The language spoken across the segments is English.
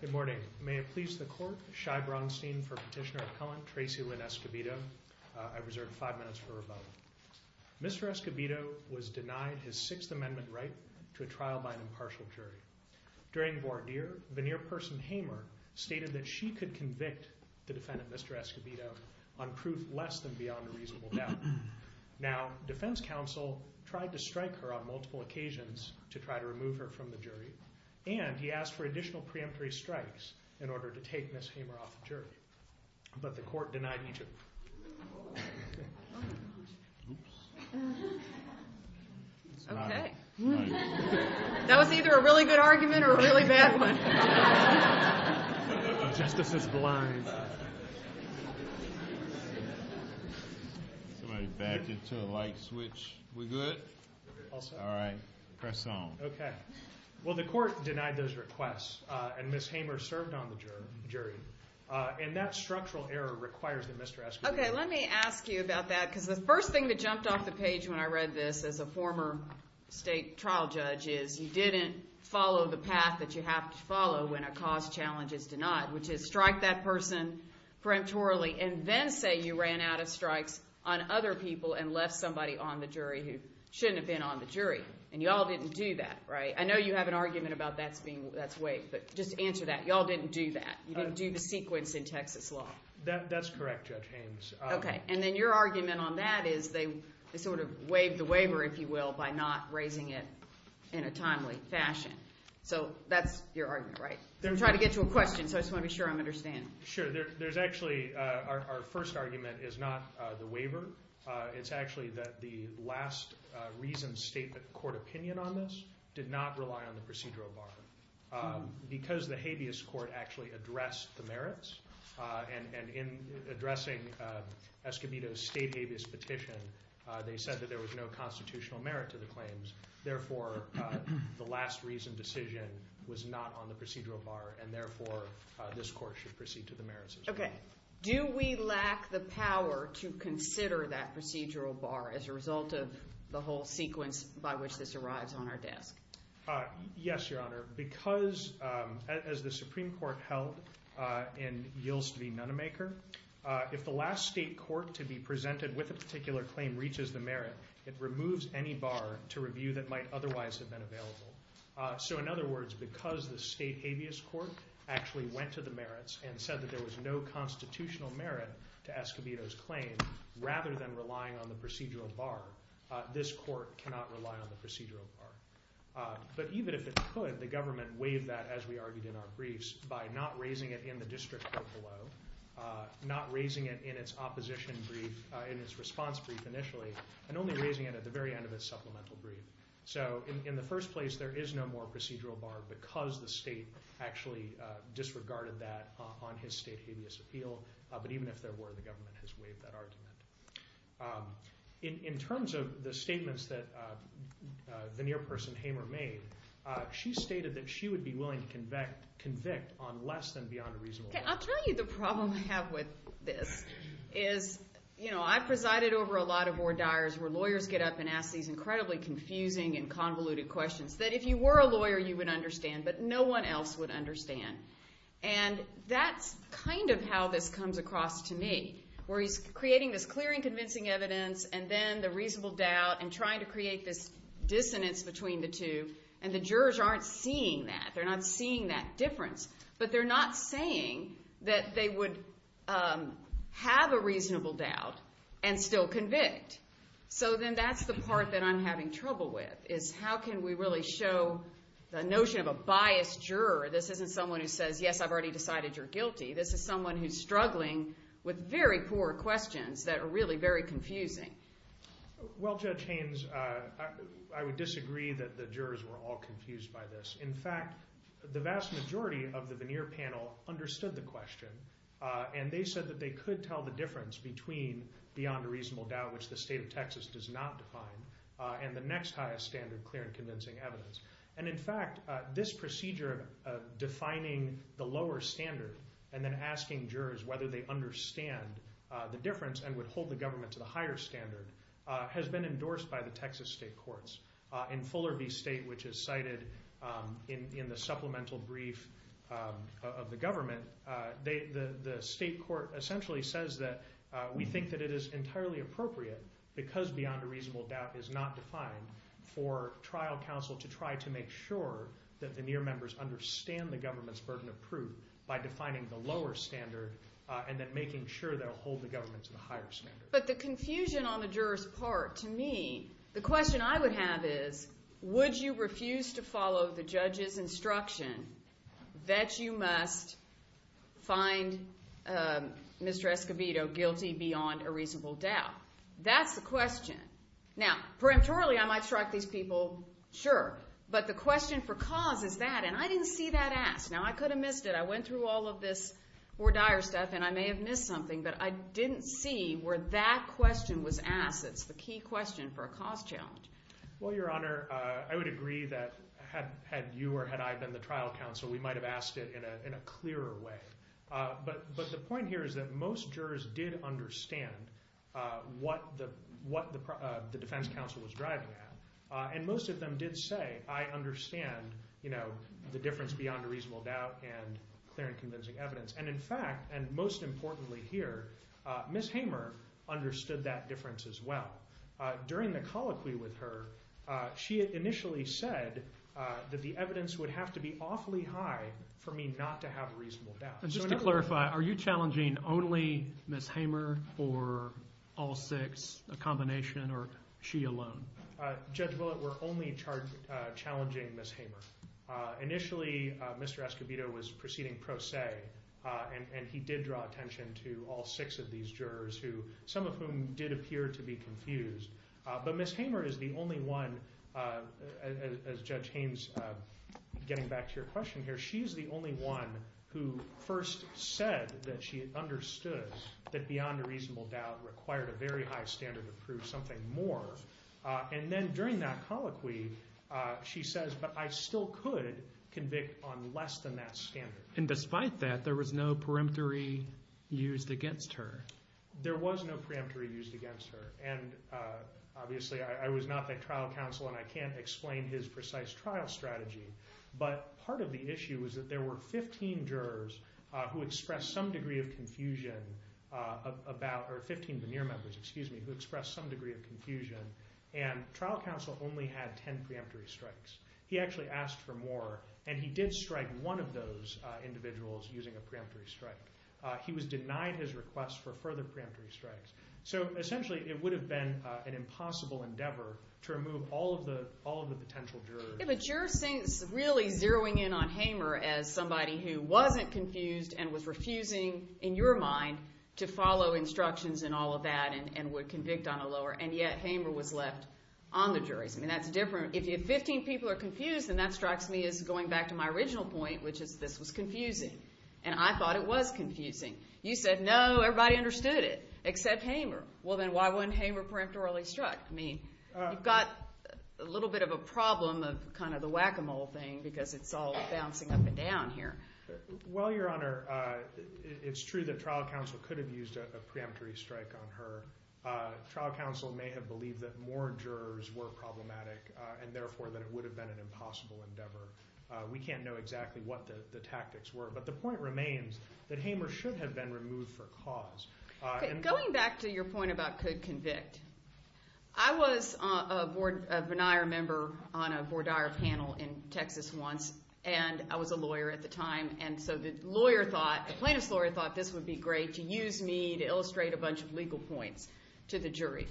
Good morning. May it please the court, Shai Bronstein for Petitioner Appellant Tracy Lynn Escobedo. I reserve five minutes for rebuttal. Mr. Escobedo was denied his Sixth Amendment right to a trial by an impartial jury. During voir dire, veneer person Hamer stated that she could convict the defendant, Mr. Escobedo, on proof less than beyond a reasonable doubt. Now, defense counsel tried to strike her on multiple occasions to try to remove her from the jury, and he asked for additional preemptory strikes in order to take Ms. Hamer off the jury. But the court denied each of them. Oops. Okay. That was either a really good argument or a really bad one. Justice is blind. Somebody back it to a light switch. We good? All set. All right. Press on. Okay. Well, the court denied those requests, and Ms. Hamer served on the jury. And that structural error requires that Mr. Escobedo Okay, let me ask you about that, because the first thing that jumped off the page when I read this as a former state trial judge is you didn't follow the path that you have to follow when a cause challenge is denied, which is strike that person preemptorily and then say you ran out of strikes on other people and left somebody on the jury who shouldn't have been on the jury. And you all didn't do that, right? I know you have an argument about that's waived, but just answer that. You all didn't do that. You didn't do the sequence in Texas law. That's correct, Judge Haynes. Okay. And then your argument on that is they sort of waived the waiver, if you will, by not raising it in a timely fashion. So that's your argument, right? I'm trying to get to a question, so I just want to be sure I'm understanding. Sure. There's actually, our first argument is not the waiver. It's actually that the last reason state court opinion on this did not rely on the procedural bar. Because the habeas court actually addressed the merits, and in addressing Escobedo's state habeas petition, they said that there was no constitutional merit to the claims. Therefore, the last reason decision was not on the procedural bar, and therefore, this court should proceed to the merits as well. Okay. Do we lack the power to consider that procedural bar as a result of the whole sequence by which this arrives on our desk? Yes, Your Honor. Because, as the Supreme Court held in Yields v. Nunnemaker, if the last state court to be presented with a particular claim reaches the merit, it removes any bar to review that might otherwise have been available. So in other words, because the state habeas court actually went to the merits and said that there was no constitutional merit to Escobedo's claim, rather than relying on the procedural bar, this court cannot rely on the procedural bar. But even if it could, the government waived that, as we argued in our briefs, by not raising it in the district court below, not raising it in its opposition brief, in its response brief initially, and only raising it at the very end of its supplemental brief. So in the first place, there is no more procedural bar because the state actually disregarded that on his state habeas appeal. But even if there were, the government has waived that argument. In terms of the statements that the near person, Hamer, made, she stated that she would be willing to convict on less than beyond a reasonable margin. Okay. I'll tell you the problem I have with this is, you know, I presided over a lot of confusing and convoluted questions that if you were a lawyer, you would understand, but no one else would understand. And that's kind of how this comes across to me, where he's creating this clear and convincing evidence, and then the reasonable doubt, and trying to create this dissonance between the two. And the jurors aren't seeing that. They're not seeing that difference. But they're not saying that they would have a reasonable doubt and still convict. So then that's the part that I'm having trouble with, is how can we really show the notion of a biased juror? This isn't someone who says, yes, I've already decided you're guilty. This is someone who's struggling with very poor questions that are really very confusing. Well, Judge Haynes, I would disagree that the jurors were all confused by this. In fact, the vast majority of the veneer panel understood the question, and they said that they could tell the difference between beyond a reasonable doubt, which the state of Texas does not define, and the next highest standard, clear and convincing evidence. And in fact, this procedure of defining the lower standard and then asking jurors whether they understand the difference and would hold the government to the higher standard has been endorsed by the Texas state courts. In Fuller v. State, which is cited in the supplemental brief of the government, the state court essentially says that we think that it is entirely appropriate, because beyond a reasonable doubt is not defined, for trial counsel to try to make sure that the veneer members understand the government's burden of proof by defining the lower standard and then making sure they'll hold the government to the higher standard. But the confusion on the jurors' part, to me, the question I would have is, would you must find Mr. Escobedo guilty beyond a reasonable doubt? That's the question. Now, peremptorily, I might strike these people, sure, but the question for cause is that, and I didn't see that asked. Now, I could have missed it. I went through all of this more dire stuff, and I may have missed something, but I didn't see where that question was asked. It's the key question for a cause challenge. Well, Your Honor, I would agree that had you or had I been the trial counsel, we might have asked it in a clearer way. But the point here is that most jurors did understand what the defense counsel was driving at, and most of them did say, I understand the difference beyond a reasonable doubt and clear and convincing evidence. And in fact, and most importantly here, Ms. Hamer understood that difference as well. During the colloquy with her, she initially said that the evidence would have to be awfully high for me not to have a reasonable doubt. Just to clarify, are you challenging only Ms. Hamer or all six, a combination, or she alone? Judge Willett, we're only challenging Ms. Hamer. Initially, Mr. Escobedo was proceeding pro se, and he did draw attention to all six of these jurors, some of whom did appear to be confused. But Ms. Hamer is the only one, as Judge Haynes, getting back to your question, she's the only one who first said that she understood that beyond a reasonable doubt required a very high standard to prove something more. And then during that colloquy, she says, but I still could convict on less than that standard. And despite that, there was no peremptory used against her? There was no peremptory used against her. And obviously, I was not the trial counsel and I can't explain his precise trial strategy, but part of the issue was that there were 15 jurors who expressed some degree of confusion about, or 15 veneer members, excuse me, who expressed some degree of confusion, and trial counsel only had 10 preemptory strikes. He actually asked for more, and he did strike one of those individuals using a preemptory strike. He was denied his request for further preemptory strikes. So essentially, it would have been an impossible endeavor to remove all of the potential jurors. But you're really zeroing in on Hamer as somebody who wasn't confused and was refusing, in your mind, to follow instructions and all of that, and would convict on a lower, and yet Hamer was left on the jurors. I mean, that's different. If 15 people are confused, then that strikes me as going back to my original point, which is this was confusing. And I thought it was Hamer. Well, then why wouldn't Hamer preemptorily strike? I mean, you've got a little bit of a problem of kind of the whack-a-mole thing, because it's all bouncing up and down here. Well, Your Honor, it's true that trial counsel could have used a preemptory strike on her. Trial counsel may have believed that more jurors were problematic, and therefore that it would have been an impossible endeavor. We can't know exactly what the tactics were, but the point remains that Hamer should have been removed for cause. Going back to your point about could convict, I was a Bonaire member on a Bonaire panel in Texas once, and I was a lawyer at the time, and so the lawyer thought, the plaintiff's lawyer thought this would be great to use me to illustrate a bunch of legal points to the jury.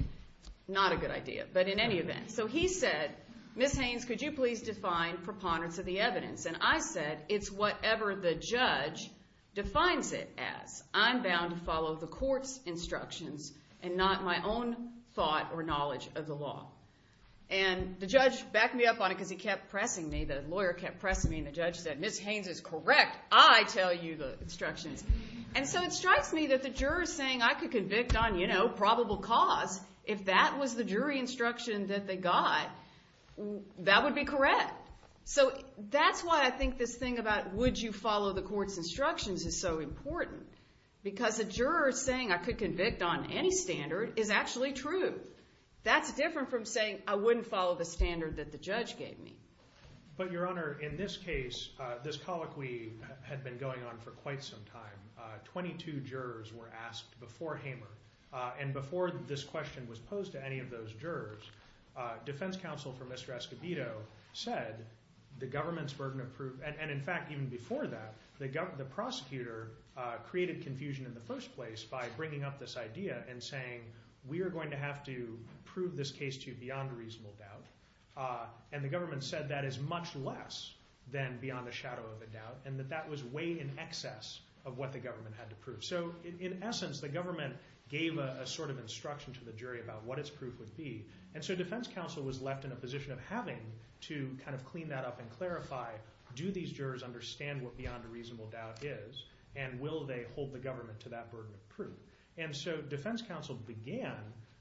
Not a good idea, but in any event. So he said, Ms. Haynes, could you please define preponderance of the evidence? And I said, it's whatever the judge defines it as. I'm telling you the court's instructions, and not my own thought or knowledge of the law. And the judge backed me up on it, because he kept pressing me. The lawyer kept pressing me, and the judge said, Ms. Haynes is correct. I tell you the instructions. And so it strikes me that the jurors saying, I could convict on probable cause, if that was the jury instruction that they got, that would be correct. So that's why I think this thing about would you follow the court's instructions is so important. Because a juror saying I could convict on any standard is actually true. That's different from saying I wouldn't follow the standard that the judge gave me. But Your Honor, in this case, this colloquy had been going on for quite some time. 22 jurors were asked before Hamer, and before this question was posed to any of those jurors, defense counsel for Mr. Escobedo said, the government's burden of proof, and in fact even before that, the prosecutor created confusion in the first place by bringing up this idea and saying, we are going to have to prove this case to you beyond reasonable doubt. And the government said that is much less than beyond the shadow of a doubt, and that was way in excess of what the government had to prove. So in essence, the government gave a sort of instruction to the jury about what its proof would be, and so defense counsel was left in a position of having to kind of clean that up and clarify, do these jurors understand what beyond a reasonable doubt is, and will they hold the government to that burden of proof? And so defense counsel began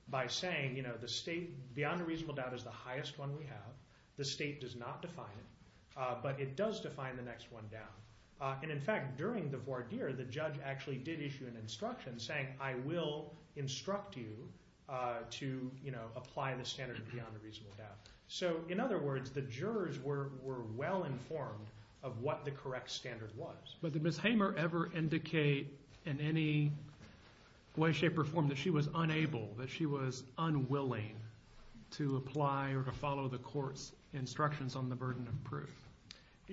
by saying, you know, the state, beyond a reasonable doubt is the highest one we have, the state does not define it, but it does define the next one down. And in fact, during the voir dire, the judge actually did issue an instruction saying, I will instruct you to apply the standard beyond a reasonable doubt. So in other words, the jurors were well informed of what the correct standard was. But did Ms. Hamer ever indicate in any way, shape, or form that she was unable, that she was unwilling to apply or to follow the court's instructions on the burden of proof?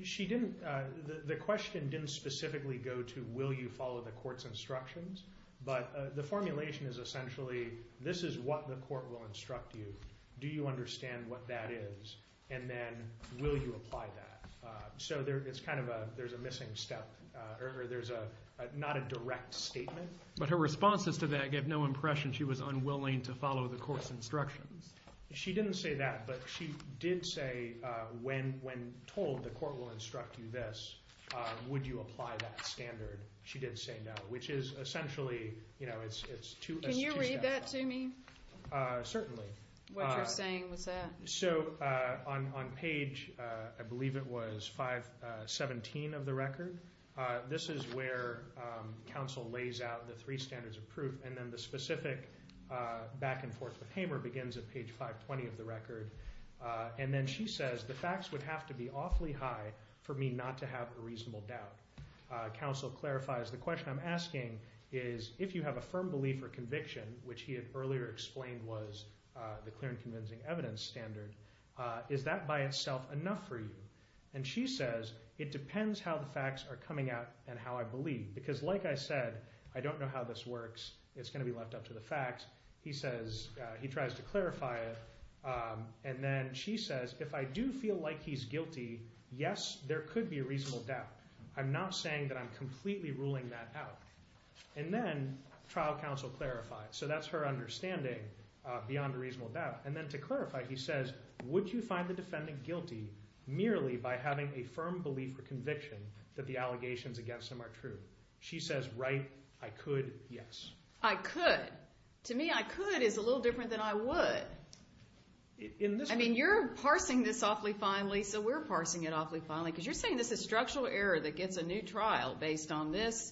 She didn't, the question didn't specifically go to, will you follow the court's instructions, but the formulation is essentially, this is what the court will instruct you, do you understand what that is, and then will you apply that? So there's kind of a, there's a missing step, or there's a, not a direct statement. But her responses to that gave no impression she was unwilling to follow the court's instructions. She didn't say that, but she did say, when told the court will instruct you this, would you apply that standard? She did say no, which is essentially, you know, it's two steps. Can you read that to me? Certainly. What you're saying was that? So on page, I believe it was 517 of the record, this is where counsel lays out the three standards of proof, and then the specific back and forth with Hamer begins at page 520 of the record. And then she says, the facts would have to be awfully high for me not to have a reasonable doubt. Counsel clarifies, the question I'm asking is, if you have a firm belief or conviction, which he had earlier explained was the clear and convincing evidence standard, is that by itself enough for you? And she says, it depends how the facts are coming out and how I believe. Because like I said, I don't know how this works, it's going to be left up to the facts. He says, he tries to clarify it, and then she says, if I do feel like he's guilty, yes, there could be a reasonable doubt. I'm not saying that I'm completely ruling that out. And then trial counsel clarifies. So that's her understanding beyond a reasonable doubt. And then to clarify, he says, would you find the defendant guilty merely by having a firm belief or conviction that the allegations against him are true? She says, right. I could. Yes. I could. To me, I could is a little different than I would. I mean, you're parsing this awfully finely, so we're parsing it awfully finely, because you're saying this is structural error that gets a new trial based on this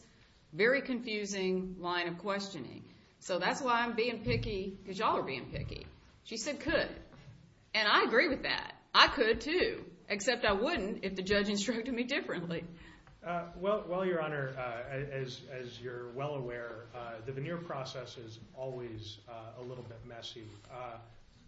very confusing line of questioning. So that's why I'm being picky, because y'all are being picky. She said, could. And I agree with that. I could, too. Except I wouldn't if the judge instructed me differently. Well, Your Honor, as you're well aware, the veneer process is always a little bit messy.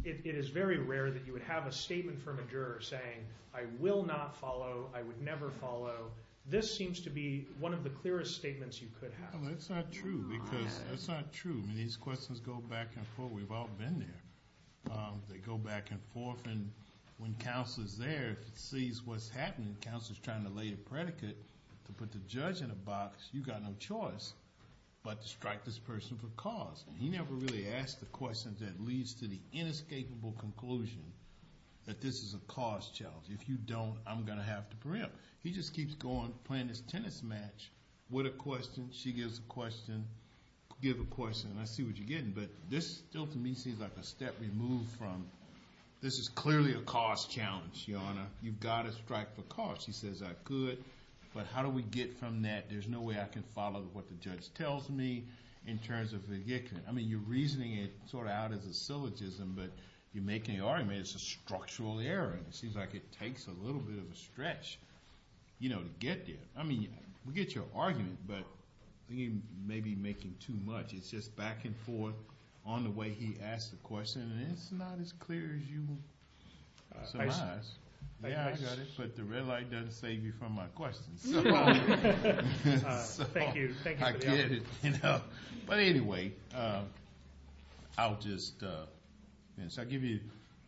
It is very rare that you would have a statement from a juror saying, I will not follow. I would never follow. This seems to be one of the clearest statements you could have. That's not true, because that's not true. These questions go back and forth. We've all been there. They go back and forth. And when counsel is there, sees what's happening, counsel is trying to lay a predicate to put the judge in a box. You've got no choice but to strike this person for cause. And he never really asks the questions that leads to the inescapable conclusion that this is a cause challenge. If you don't, I'm going to have to preempt. He just keeps going, playing this tennis match with a question. Give a question. And I see what you're getting. But this still, to me, seems like a step removed from, this is clearly a cause challenge, Your Honor. You've got to strike for cause. He says, I could. But how do we get from that? There's no way I can follow what the judge tells me in terms of the victim. I mean, you're reasoning it sort of out as a syllogism, but you're making the argument it's a structural error. And it seems like it takes a little bit of a stretch to get there. I mean, we get your argument, but I think you may be making too much. It's just back and forth on the way he asks the question. And it's not as clear as you would surmise. Yeah, I got it. But the red light doesn't save you from my questions. Thank you. I get it. But anyway, I'll just, I'll give you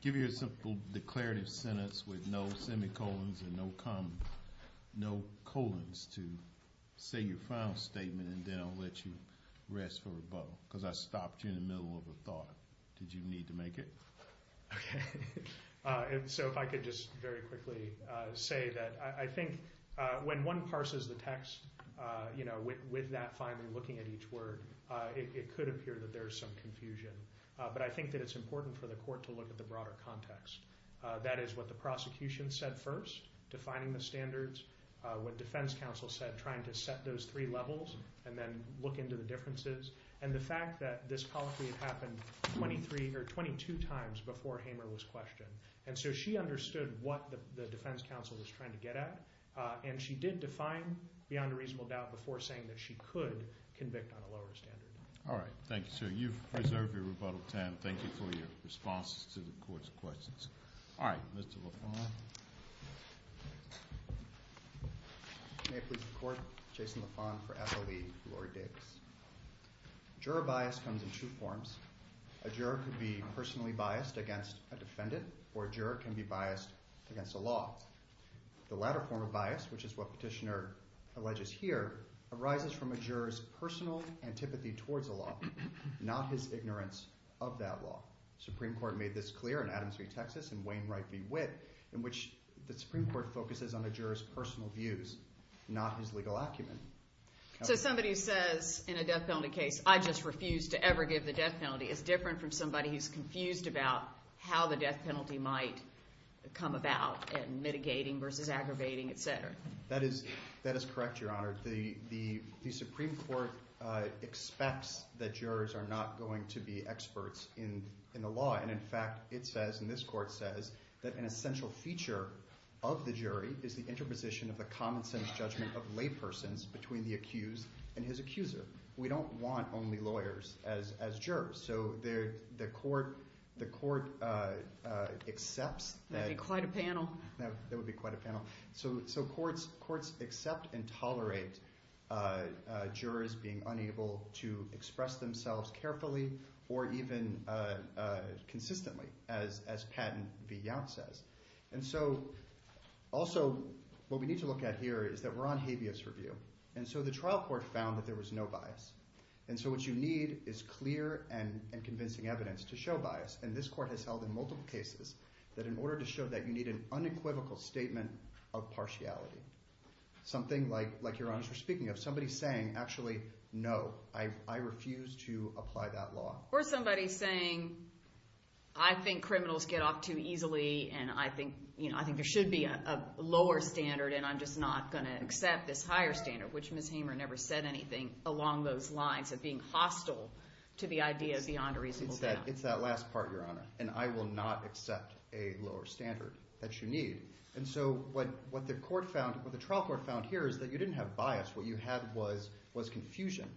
a simple declarative sentence with no semicolons and a bow, because I stopped you in the middle of a thought. Did you need to make it? Okay. And so if I could just very quickly say that I think when one parses the text, you know, with that finally looking at each word, it could appear that there's some confusion. But I think that it's important for the court to look at the broader context. That is what the prosecution said first, defining the standards. What defense counsel said, trying to set those three levels and then look into the differences. And the fact that this policy had happened 23 or 22 times before Hamer was questioned. And so she understood what the defense counsel was trying to get at. And she did define beyond a reasonable doubt before saying that she could convict on a lower standard. All right. Thank you, sir. You've preserved your rebuttal time. Thank you for your responses to the court's questions. All right. Mr. LaFont? May it please the court, Jason LaFont for SLE, Lori Davis. Juror bias comes in two forms. A juror could be personally biased against a defendant or a juror can be biased against a law. The latter form of bias, which is what petitioner alleges here, arises from a juror's personal antipathy towards a law, not his ignorance of that law. Supreme Court made this clear in Adams Street, Texas in Wayne Wright v. Witt. In which the Supreme Court focuses on a juror's personal views, not his legal acumen. So somebody says in a death penalty case, I just refuse to ever give the death penalty, is different from somebody who's confused about how the death penalty might come about and mitigating versus aggravating, et cetera. That is correct, Your Honor. The Supreme Court expects that jurors are not going to be experts in the law. And in fact, it says, and this court says, that an essential feature of the jury is the interposition of the common sense judgment of laypersons between the accused and his accuser. We don't want only lawyers as jurors. So the court accepts that- That would be quite a panel. That would be quite a panel. So courts accept and tolerate jurors being unable to express themselves carefully or even consistently, as Patton v. Yount says. And so, also, what we need to look at here is that we're on habeas review. And so the trial court found that there was no bias. And so what you need is clear and convincing evidence to show bias. And this court has held in multiple cases that in order to show that you need an unequivocal statement of partiality. Something like Your Honor is speaking of. Somebody saying, actually, no, I refuse to apply that law. Or somebody saying, I think criminals get off too easily. And I think there should be a lower standard. And I'm just not going to accept this higher standard. Which Ms. Hamer never said anything along those lines of being hostile to the idea beyond a reasonable doubt. It's that last part, Your Honor. And I will not accept a lower standard that you need. And so what the trial court found here is that you didn't have bias. What you had was confusion.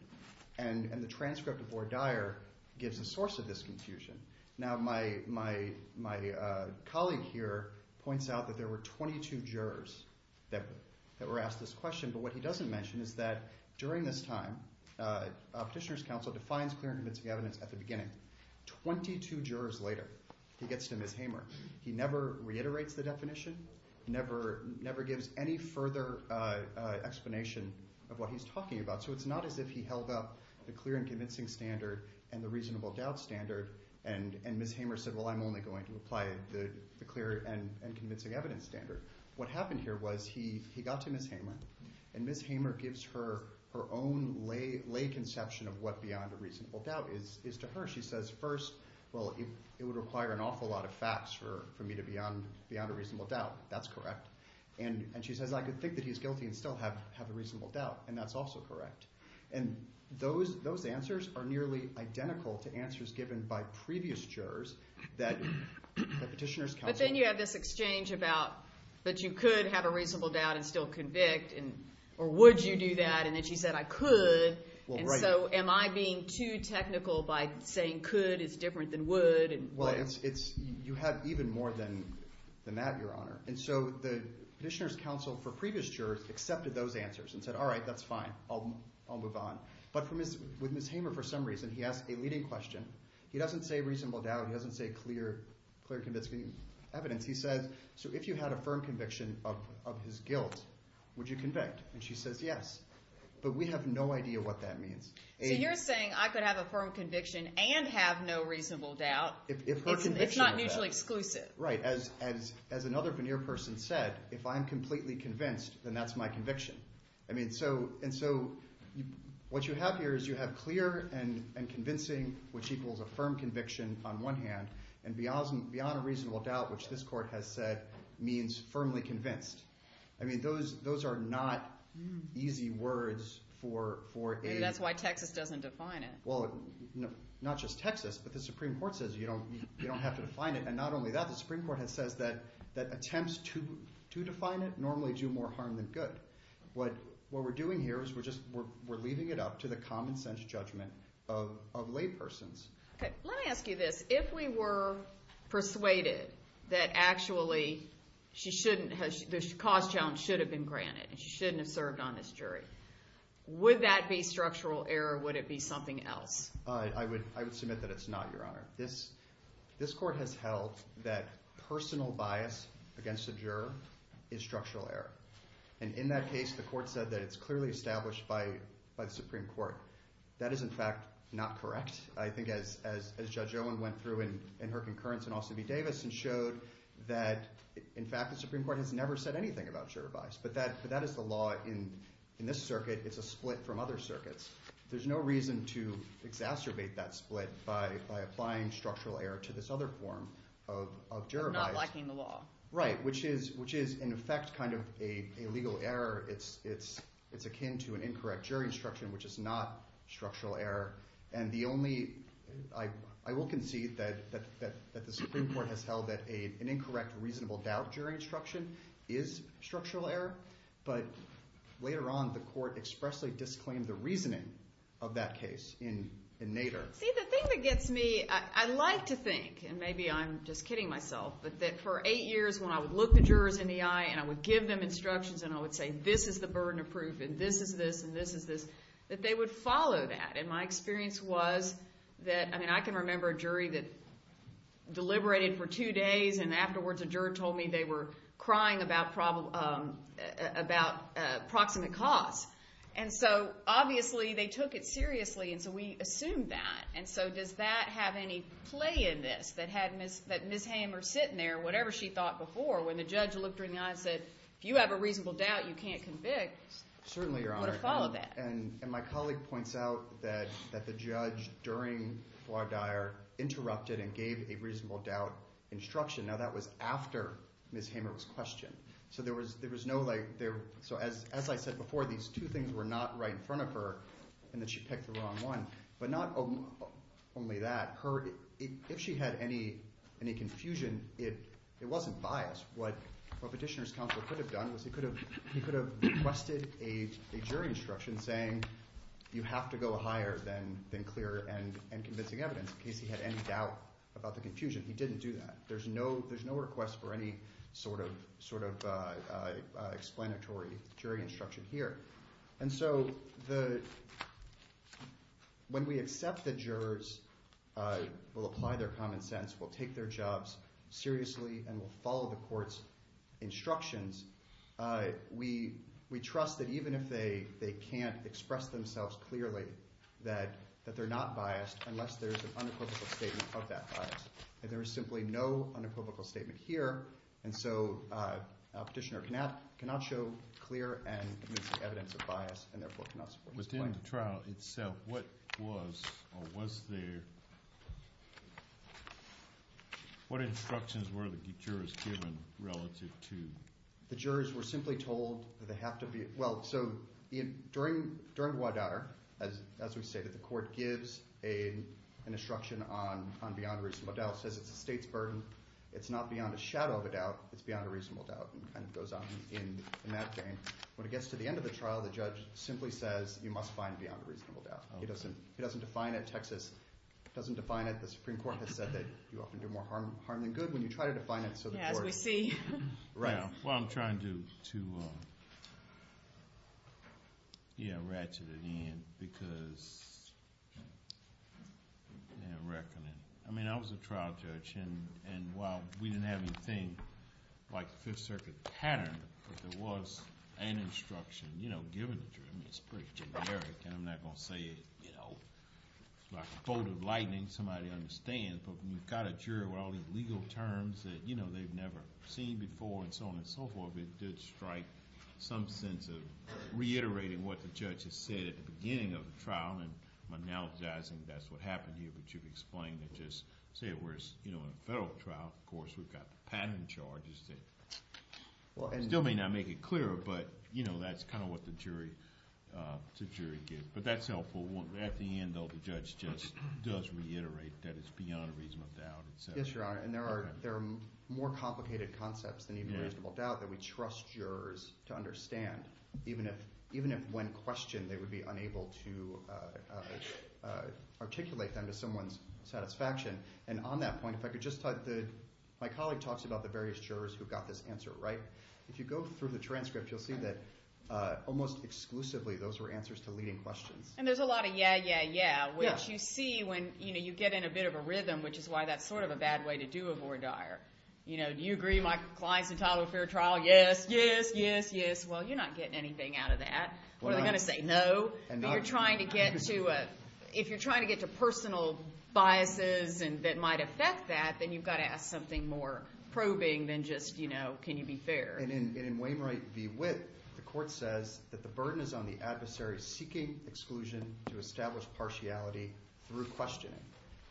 And the transcript of Boar Dyer gives a source of this confusion. Now, my colleague here points out that there were 22 jurors that were asked this question. But what he doesn't mention is that during this time, a petitioner's counsel defines clear and convincing evidence at the beginning. 22 jurors later, he gets to Ms. Hamer. He never reiterates the definition. Never gives any further explanation of what he's talking about. So it's not as if he held up the clear and convincing standard and the reasonable doubt standard. And Ms. Hamer said, well, I'm only going to apply the clear and convincing evidence standard. What happened here was he got to Ms. Hamer. And Ms. Hamer gives her own lay conception of what beyond a reasonable doubt is to her. She says, first, well, it would require an awful lot of facts for me to beyond a reasonable doubt. That's correct. And she says, I could think that he's guilty and still have a reasonable doubt. And that's also correct. And those answers are nearly identical to answers given by previous jurors that petitioners counseled. But then you have this exchange about that you could have a reasonable doubt and still convict. Or would you do that? And then she said, I could. And so am I being too technical by saying could is different than would? Well, you have even more than that, Your Honor. And so the petitioners counsel for previous jurors accepted those answers and said, all right, that's fine. I'll move on. But with Ms. Hamer, for some reason, he asked a leading question. He doesn't say reasonable doubt. He doesn't say clear and convincing evidence. He said, so if you had a firm conviction of his guilt, would you convict? And she says, yes. But we have no idea what that means. So you're saying I could have a firm conviction and have no reasonable doubt. It's not mutually exclusive. Right. As another veneer person said, if I'm completely convinced, then that's my conviction. And so what you have here is you have clear and convincing, which equals a firm conviction on one hand. And beyond a reasonable doubt, which this court has said means firmly convinced. I mean, those are not easy words for a- And that's why Texas doesn't define it. Well, not just Texas, but the Supreme Court says you don't have to define it. And not only that, the Supreme Court has said that attempts to define it normally do more harm than good. What we're doing here is we're leaving it up to the common sense judgment of laypersons. Let me ask you this. If we were persuaded that actually the cause challenge should have been granted, and she shouldn't have served on this jury, would that be structural error or would it be something else? I would submit that it's not, Your Honor. This court has held that personal bias against the juror is structural error. And in that case, the court said that it's clearly established by the Supreme Court. That is, in fact, not correct. I think as Judge Owen went through in her concurrence in Austin v. Davis and showed that, in fact, the Supreme Court has never said anything about juror bias. But that is the law in this circuit. It's a split from other circuits. There's no reason to exacerbate that split by applying structural error to this other form of juror bias. Not lacking the law. Right, which is, in effect, kind of a legal error. It's akin to an incorrect jury instruction, which is not structural error. I will concede that the Supreme Court has held that an incorrect reasonable doubt jury instruction is structural error. But later on, the court expressly disclaimed the reasoning of that case in Nader. See, the thing that gets me, I like to think, and maybe I'm just kidding myself, but that for eight years when I would look the jurors in the eye and I would give them instructions and I would say, this is the burden of proof and this is this and this is this, that they would follow that. And my experience was that, I mean, I can remember a jury that deliberated for two days and afterwards a juror told me they were crying about proximate cause. And so, obviously, they took it seriously and so we assumed that. And so does that have any play in this? That had Ms. Hamer sitting there, whatever she thought before, when the judge looked her in the eye and said, if you have a reasonable doubt, you can't convict, you would have followed that. And my colleague points out that the judge, during voir dire, interrupted and gave a reasonable doubt instruction. Now, that was after Ms. Hamer was questioned. So there was no like, so as I said before, these two things were not right in front of her and that she picked the wrong one. But not only that, if she had any confusion, it wasn't biased. What Petitioner's counsel could have done was he could have requested a jury instruction saying you have to go higher than clear and convincing evidence in case he had any doubt about the confusion. He didn't do that. There's no request for any sort of explanatory jury instruction here. And so when we accept that jurors will apply their common sense, will take their jobs seriously and will follow the court's instructions, we trust that even if they can't express themselves clearly, that they're not biased unless there's an unequivocal statement of that bias. And there is simply no unequivocal statement here. And so Petitioner cannot show clear and convincing evidence of bias and therefore cannot support this plan. But in the trial itself, what was or was there, what instructions were the jurors given relative to? The jurors were simply told that they have to be – well, so during WIDAR, as we've stated, the court gives an instruction on beyond reasonable doubt, says it's the state's burden, it's not beyond a shadow of a doubt, it's beyond a reasonable doubt and kind of goes on in that vein. When it gets to the end of the trial, the judge simply says you must find beyond a reasonable doubt. He doesn't define it. Texas doesn't define it. The Supreme Court has said that you often do more harm than good when you try to define it so the court – Yeah, as we see. Right. Well, I'm trying to, yeah, ratchet it in because, yeah, reckon it. I mean, I was a trial judge. And while we didn't have anything like the Fifth Circuit pattern, there was an instruction, you know, given the jury. I mean, it's pretty generic and I'm not going to say it, you know, like a bolt of lightning somebody understands, but when you've got a jury with all these legal terms that, you know, they've never seen before and so on and so forth, it did strike some sense of reiterating what the judge has said at the beginning of the trial and I'm analogizing that's what happened here, but you've explained it just – whereas, you know, in a federal trial, of course, we've got the pattern charges that still may not make it clearer, but, you know, that's kind of what the jury gives. But that's helpful. At the end, though, the judge just does reiterate that it's beyond a reasonable doubt. Yes, Your Honor, and there are more complicated concepts than even a reasonable doubt that we trust jurors to understand, to someone's satisfaction. And on that point, if I could just – my colleague talks about the various jurors who got this answer right. If you go through the transcript, you'll see that almost exclusively those were answers to leading questions. And there's a lot of yeah, yeah, yeah, which you see when, you know, you get in a bit of a rhythm, which is why that's sort of a bad way to do a voir dire. You know, do you agree Michael Klein's entitled to a fair trial? Yes, yes, yes, yes. Well, you're not getting anything out of that. They're going to say no, but you're trying to get to – that might affect that, then you've got to ask something more probing than just, you know, can you be fair? And in Wainwright v. Witt, the court says that the burden is on the adversary seeking exclusion to establish partiality through questioning.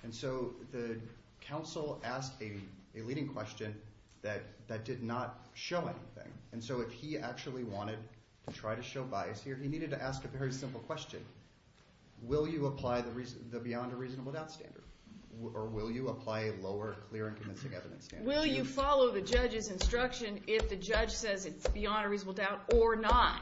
And so the counsel asked a leading question that did not show anything. And so if he actually wanted to try to show bias here, he needed to ask a very simple question. Will you apply the beyond a reasonable doubt standard? Or will you apply a lower clear and convincing evidence standard? Will you follow the judge's instruction if the judge says it's beyond a reasonable doubt or not,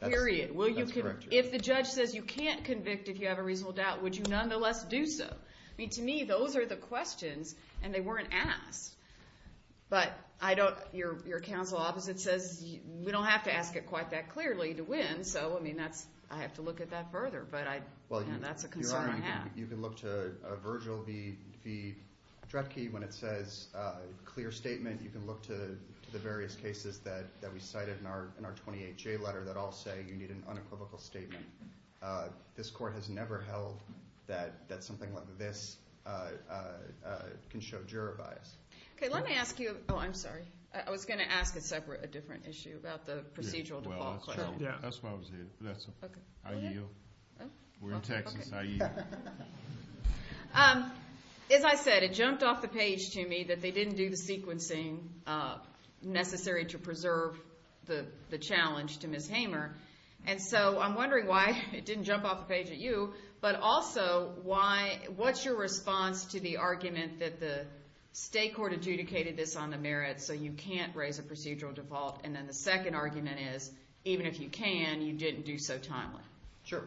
period? That's correct. If the judge says you can't convict if you have a reasonable doubt, would you nonetheless do so? I mean, to me, those are the questions and they weren't asked. But I don't – your counsel opposite says we don't have to ask it quite that clearly to win, so I mean that's – I have to look at that further, but that's a concern I have. You can look to Virgil v. Dretke when it says clear statement. You can look to the various cases that we cited in our 28-J letter that all say you need an unequivocal statement. This court has never held that something like this can show juror bias. OK, let me ask you – oh, I'm sorry. I was going to ask a separate – a different issue about the procedural default claim. Yeah, that's why I was here. I yield. We're in Texas. I yield. As I said, it jumped off the page to me that they didn't do the sequencing necessary to preserve the challenge to Ms. Hamer, and so I'm wondering why it didn't jump off the page at you, but also why – what's your response to the argument that the state court adjudicated this on the merit so you can't raise a procedural default, and then the second argument is even if you can, you didn't do so timely? Sure.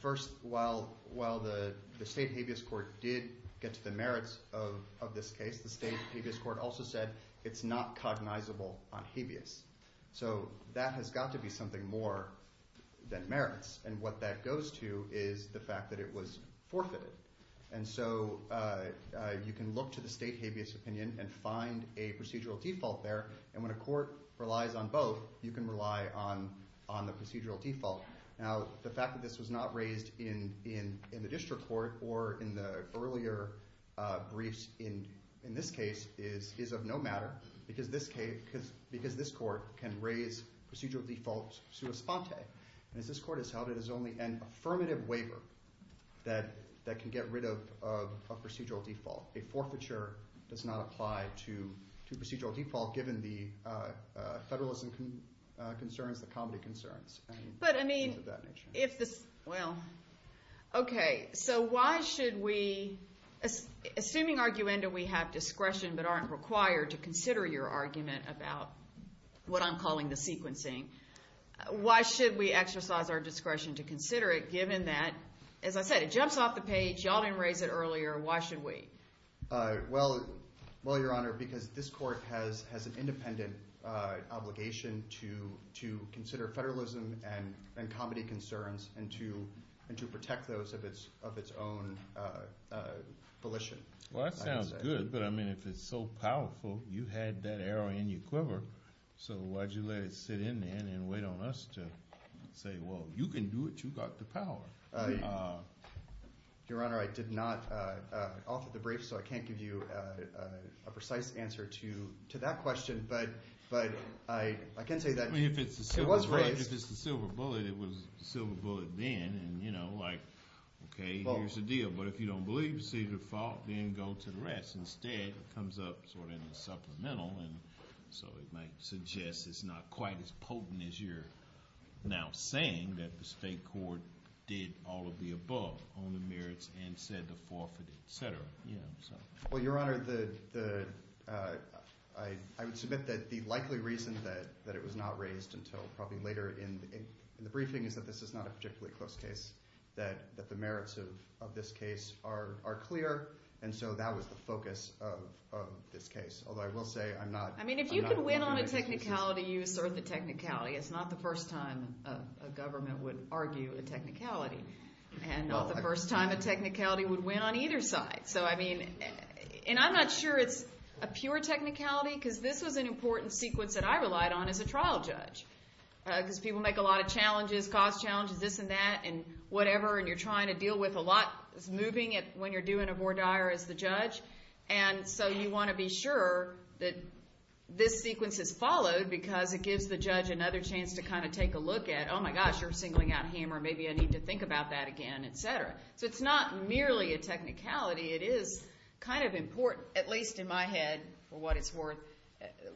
First, while the state habeas court did get to the merits of this case, the state habeas court also said it's not cognizable on habeas. So that has got to be something more than merits, and what that goes to is the fact that it was forfeited. And so you can look to the state habeas opinion and find a procedural default there, and when a court relies on both, you can rely on the procedural default. Now, the fact that this was not raised in the district court or in the earlier briefs in this case is of no matter, because this court can raise procedural defaults sua sponte, and this court has held it as only an affirmative waiver that can get rid of a procedural default. A forfeiture does not apply to procedural default given the federalism concerns, the comedy concerns, and things of that nature. But I mean, if this, well, OK, so why should we, assuming, arguendo, we have discretion but aren't required to consider your argument about what I'm calling the sequencing, why should we exercise our discretion to consider it, given that, as I said, it jumps off the page, y'all didn't raise it earlier, why should we? Well, your honor, because this court has an independent obligation to consider federalism and comedy concerns and to protect those of its own volition. Well, that sounds good, but I mean, if it's so powerful, you had that arrow in your quiver, so why'd you let it sit in the end and wait on us to say, well, you can do it. You got the power. Your honor, I did not offer the brief, so I can't give you a precise answer to that question, but I can say that it was raised. If it's the silver bullet, it was the silver bullet then, and you know, like, OK, here's the deal. But if you don't believe procedural default, then go to the rest. Instead, it comes up sort of in the supplemental, and so it might suggest it's not quite as potent as you're now saying that the state court did all of the above on the merits and said to forfeit, et cetera. Well, your honor, I would submit that the likely reason that it was not raised until probably later in the briefing is that this is not a particularly close case, that the merits of this case are clear, and so that was the focus of this case, although I will say I'm not aware of the reasons. I mean, if you could win on a technicality, you assert the technicality. It's not the first time a government would argue a technicality, and not the first time a technicality would win on either side. So, I mean, and I'm not sure it's a pure technicality because this was an important sequence that I relied on as a trial judge because people make a lot of challenges, cost challenges, this and that, and whatever, and you're trying to deal with a lot that's moving when you're doing a voir dire as the judge, and so you want to be sure that this sequence is followed because it gives the judge another chance to kind of take a look at, oh, my gosh, you're singling out him, or maybe I need to think about that again, et cetera. So it's not merely a technicality. It is kind of important, at least in my head, for what it's worth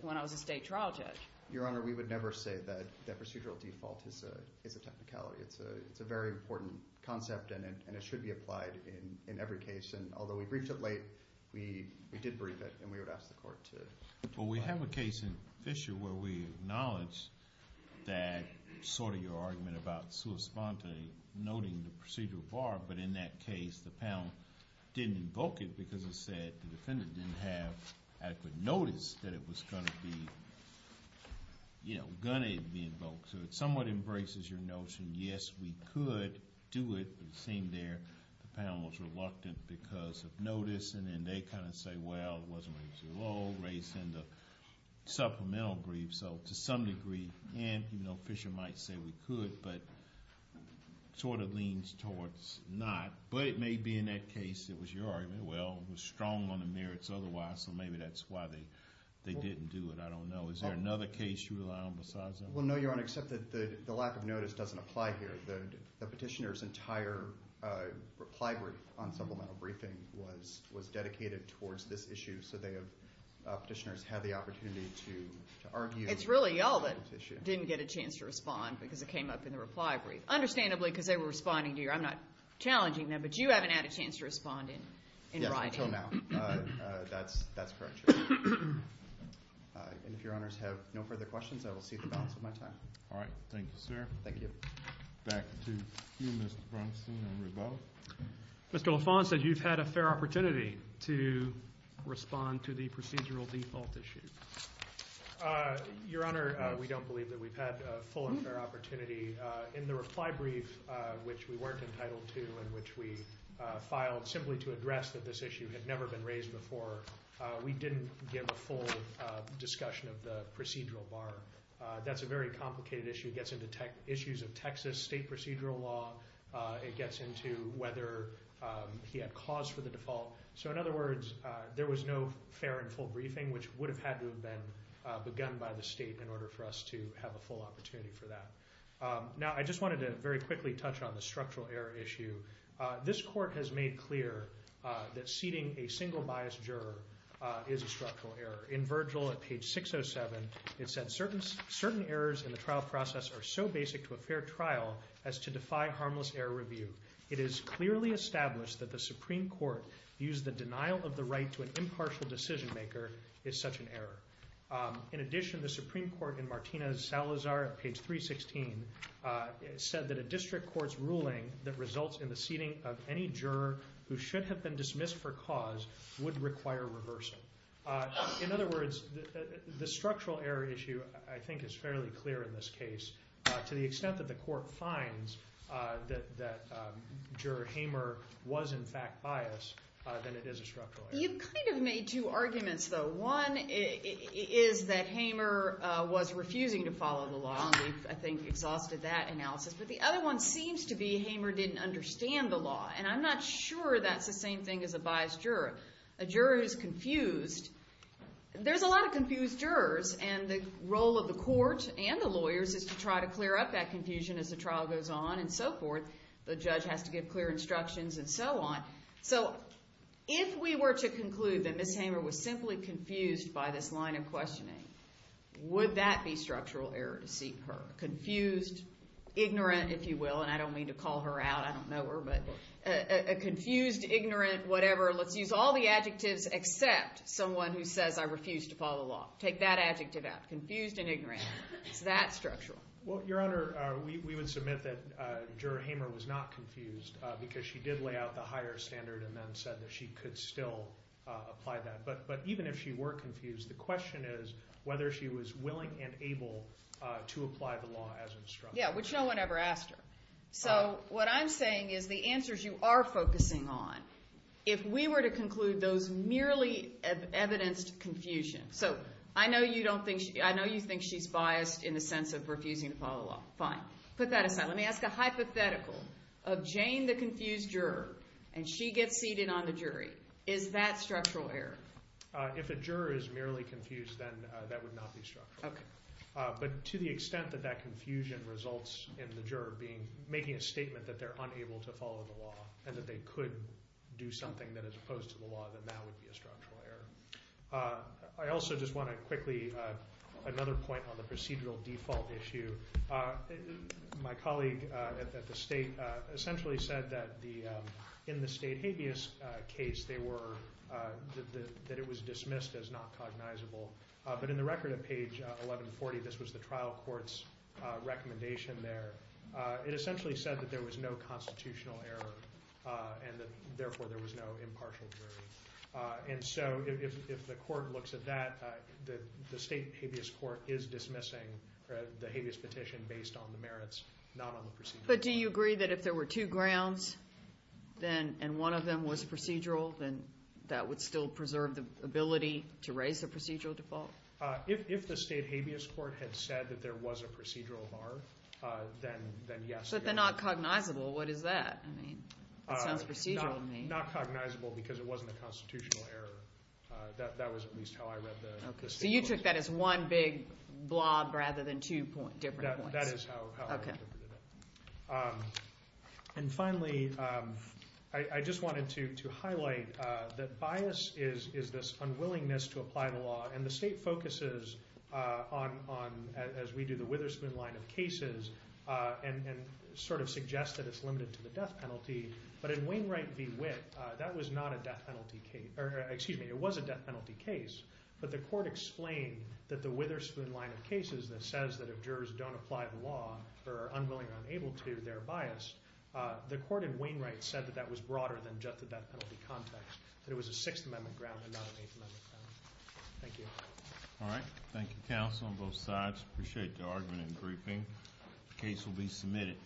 when I was a state trial judge. Your Honor, we would never say that procedural default is a technicality. It's a very important concept, and it should be applied in every case, and although we briefed it late, we did brief it, and we would ask the court to apply it. Well, we have a case in Fisher where we acknowledge that sort of your argument about sua sponte, noting the procedural voir, but in that case the panel didn't invoke it because it said the defendant didn't have adequate notice that it was going to be, you know, going to be invoked. So it somewhat embraces your notion, yes, we could do it, but it seemed there the panel was reluctant because of notice, and then they kind of say, well, it wasn't raised too low, raised in the supplemental brief, so to some degree, and, you know, Fisher might say we could, but sort of leans towards not, but it may be in that case it was your argument, well, it was strong on the merits otherwise, so maybe that's why they didn't do it. I don't know. Is there another case you rely on besides that? Well, no, Your Honor, except that the lack of notice doesn't apply here. The petitioner's entire reply brief on supplemental briefing was dedicated towards this issue, so they have, petitioners have the opportunity to argue. It's really y'all that didn't get a chance to respond because it came up in the reply brief. Understandably, because they were responding to your, I'm not challenging them, but you haven't had a chance to respond in writing. Yes, until now. That's correct, Your Honor. And if Your Honors have no further questions, I will see to the balance of my time. All right. Thank you, sir. Thank you. Back to you, Mr. Brunson and Ruth Bowles. Mr. LaFont said you've had a fair opportunity to respond to the procedural default issue. Your Honor, we don't believe that we've had a full and fair opportunity. In the reply brief, which we weren't entitled to and which we filed simply to address that this issue had never been raised before, we didn't give a full discussion of the procedural bar. That's a very complicated issue. It gets into issues of Texas state procedural law. It gets into whether he had cause for the default. So in other words, there was no fair and full briefing, which would have had to have been begun by the state in order for us to have a full opportunity for that. Now, I just wanted to very quickly touch on the structural error issue. This court has made clear that seating a single biased juror is a structural error. In Virgil, at page 607, it said, certain errors in the trial process are so basic to a fair trial as to defy harmless error review. It is clearly established that the Supreme Court views the denial of the right to an impartial decision-maker as such an error. In addition, the Supreme Court in Martinez-Salazar, at page 316, said that a district court's ruling that results in the seating of any juror who should have been dismissed for cause would require reversal. In other words, the structural error issue, I think, is fairly clear in this case. To the extent that the court finds that juror Hamer was, in fact, biased, then it is a structural error. You've kind of made two arguments, though. One is that Hamer was refusing to follow the law, and we've, I think, exhausted that analysis. But the other one seems to be Hamer didn't understand the law, and I'm not sure that's the same thing as a biased juror. A juror who's confused... There's a lot of confused jurors, and the role of the court and the lawyers is to try to clear up that confusion as the trial goes on and so forth. The judge has to give clear instructions and so on. So if we were to conclude that Ms. Hamer was simply confused by this line of questioning, would that be structural error to see her? Confused, ignorant, if you will, and I don't mean to call her out, I don't know her, but confused, ignorant, whatever. Let's use all the adjectives except someone who says, I refuse to follow the law. Take that adjective out, confused and ignorant. It's that structural. Well, Your Honor, we would submit that Juror Hamer was not confused because she did lay out the higher standard and then said that she could still apply that. But even if she were confused, the question is whether she was willing and able to apply the law as instructed. Yeah, which no one ever asked her. So what I'm saying is the answers you are focusing on, if we were to conclude those merely evidenced confusions... So I know you think she's biased in the sense of refusing to follow the law. Fine, put that aside. Let me ask a hypothetical. Of Jane, the confused juror, and she gets seated on the jury, is that structural error? If a juror is merely confused, then that would not be structural. But to the extent that that confusion results in the juror making a statement that they're unable to follow the law and that they could do something that is opposed to the law, then that would be a structural error. I also just want to quickly... Another point on the procedural default issue. My colleague at the state essentially said that in the state habeas case, they were... that it was dismissed as not cognizable. But in the record at page 1140, this was the trial court's recommendation there. It essentially said that there was no constitutional error and that, therefore, there was no impartial jury. And so if the court looks at that, the state habeas court is dismissing the habeas petition based on the merits, not on the procedure. But do you agree that if there were two grounds and one of them was procedural, then that would still preserve the ability to raise the procedural default? If the state habeas court had said that there was a procedural error, then yes. But they're not cognizable. What is that? I mean, it sounds procedural to me. It's not cognizable because it wasn't a constitutional error. That was at least how I read the statement. So you took that as one big blob rather than two different points. That is how I interpreted it. And finally, I just wanted to highlight that bias is this unwillingness to apply the law. And the state focuses on, as we do, the Witherspoon line of cases and sort of suggests that it's limited to the death penalty. But in Wainwright v. Witt, that was not a death penalty case. Excuse me. It was a death penalty case. But the court explained that the Witherspoon line of cases that says that if jurors don't apply the law or are unwilling or unable to, they're biased. The court in Wainwright said that that was broader than just the death penalty context, that it was a Sixth Amendment ground and not an Eighth Amendment ground. Thank you. All right. Thank you, counsel, on both sides. Appreciate the argument and briefing. The case will be submitted.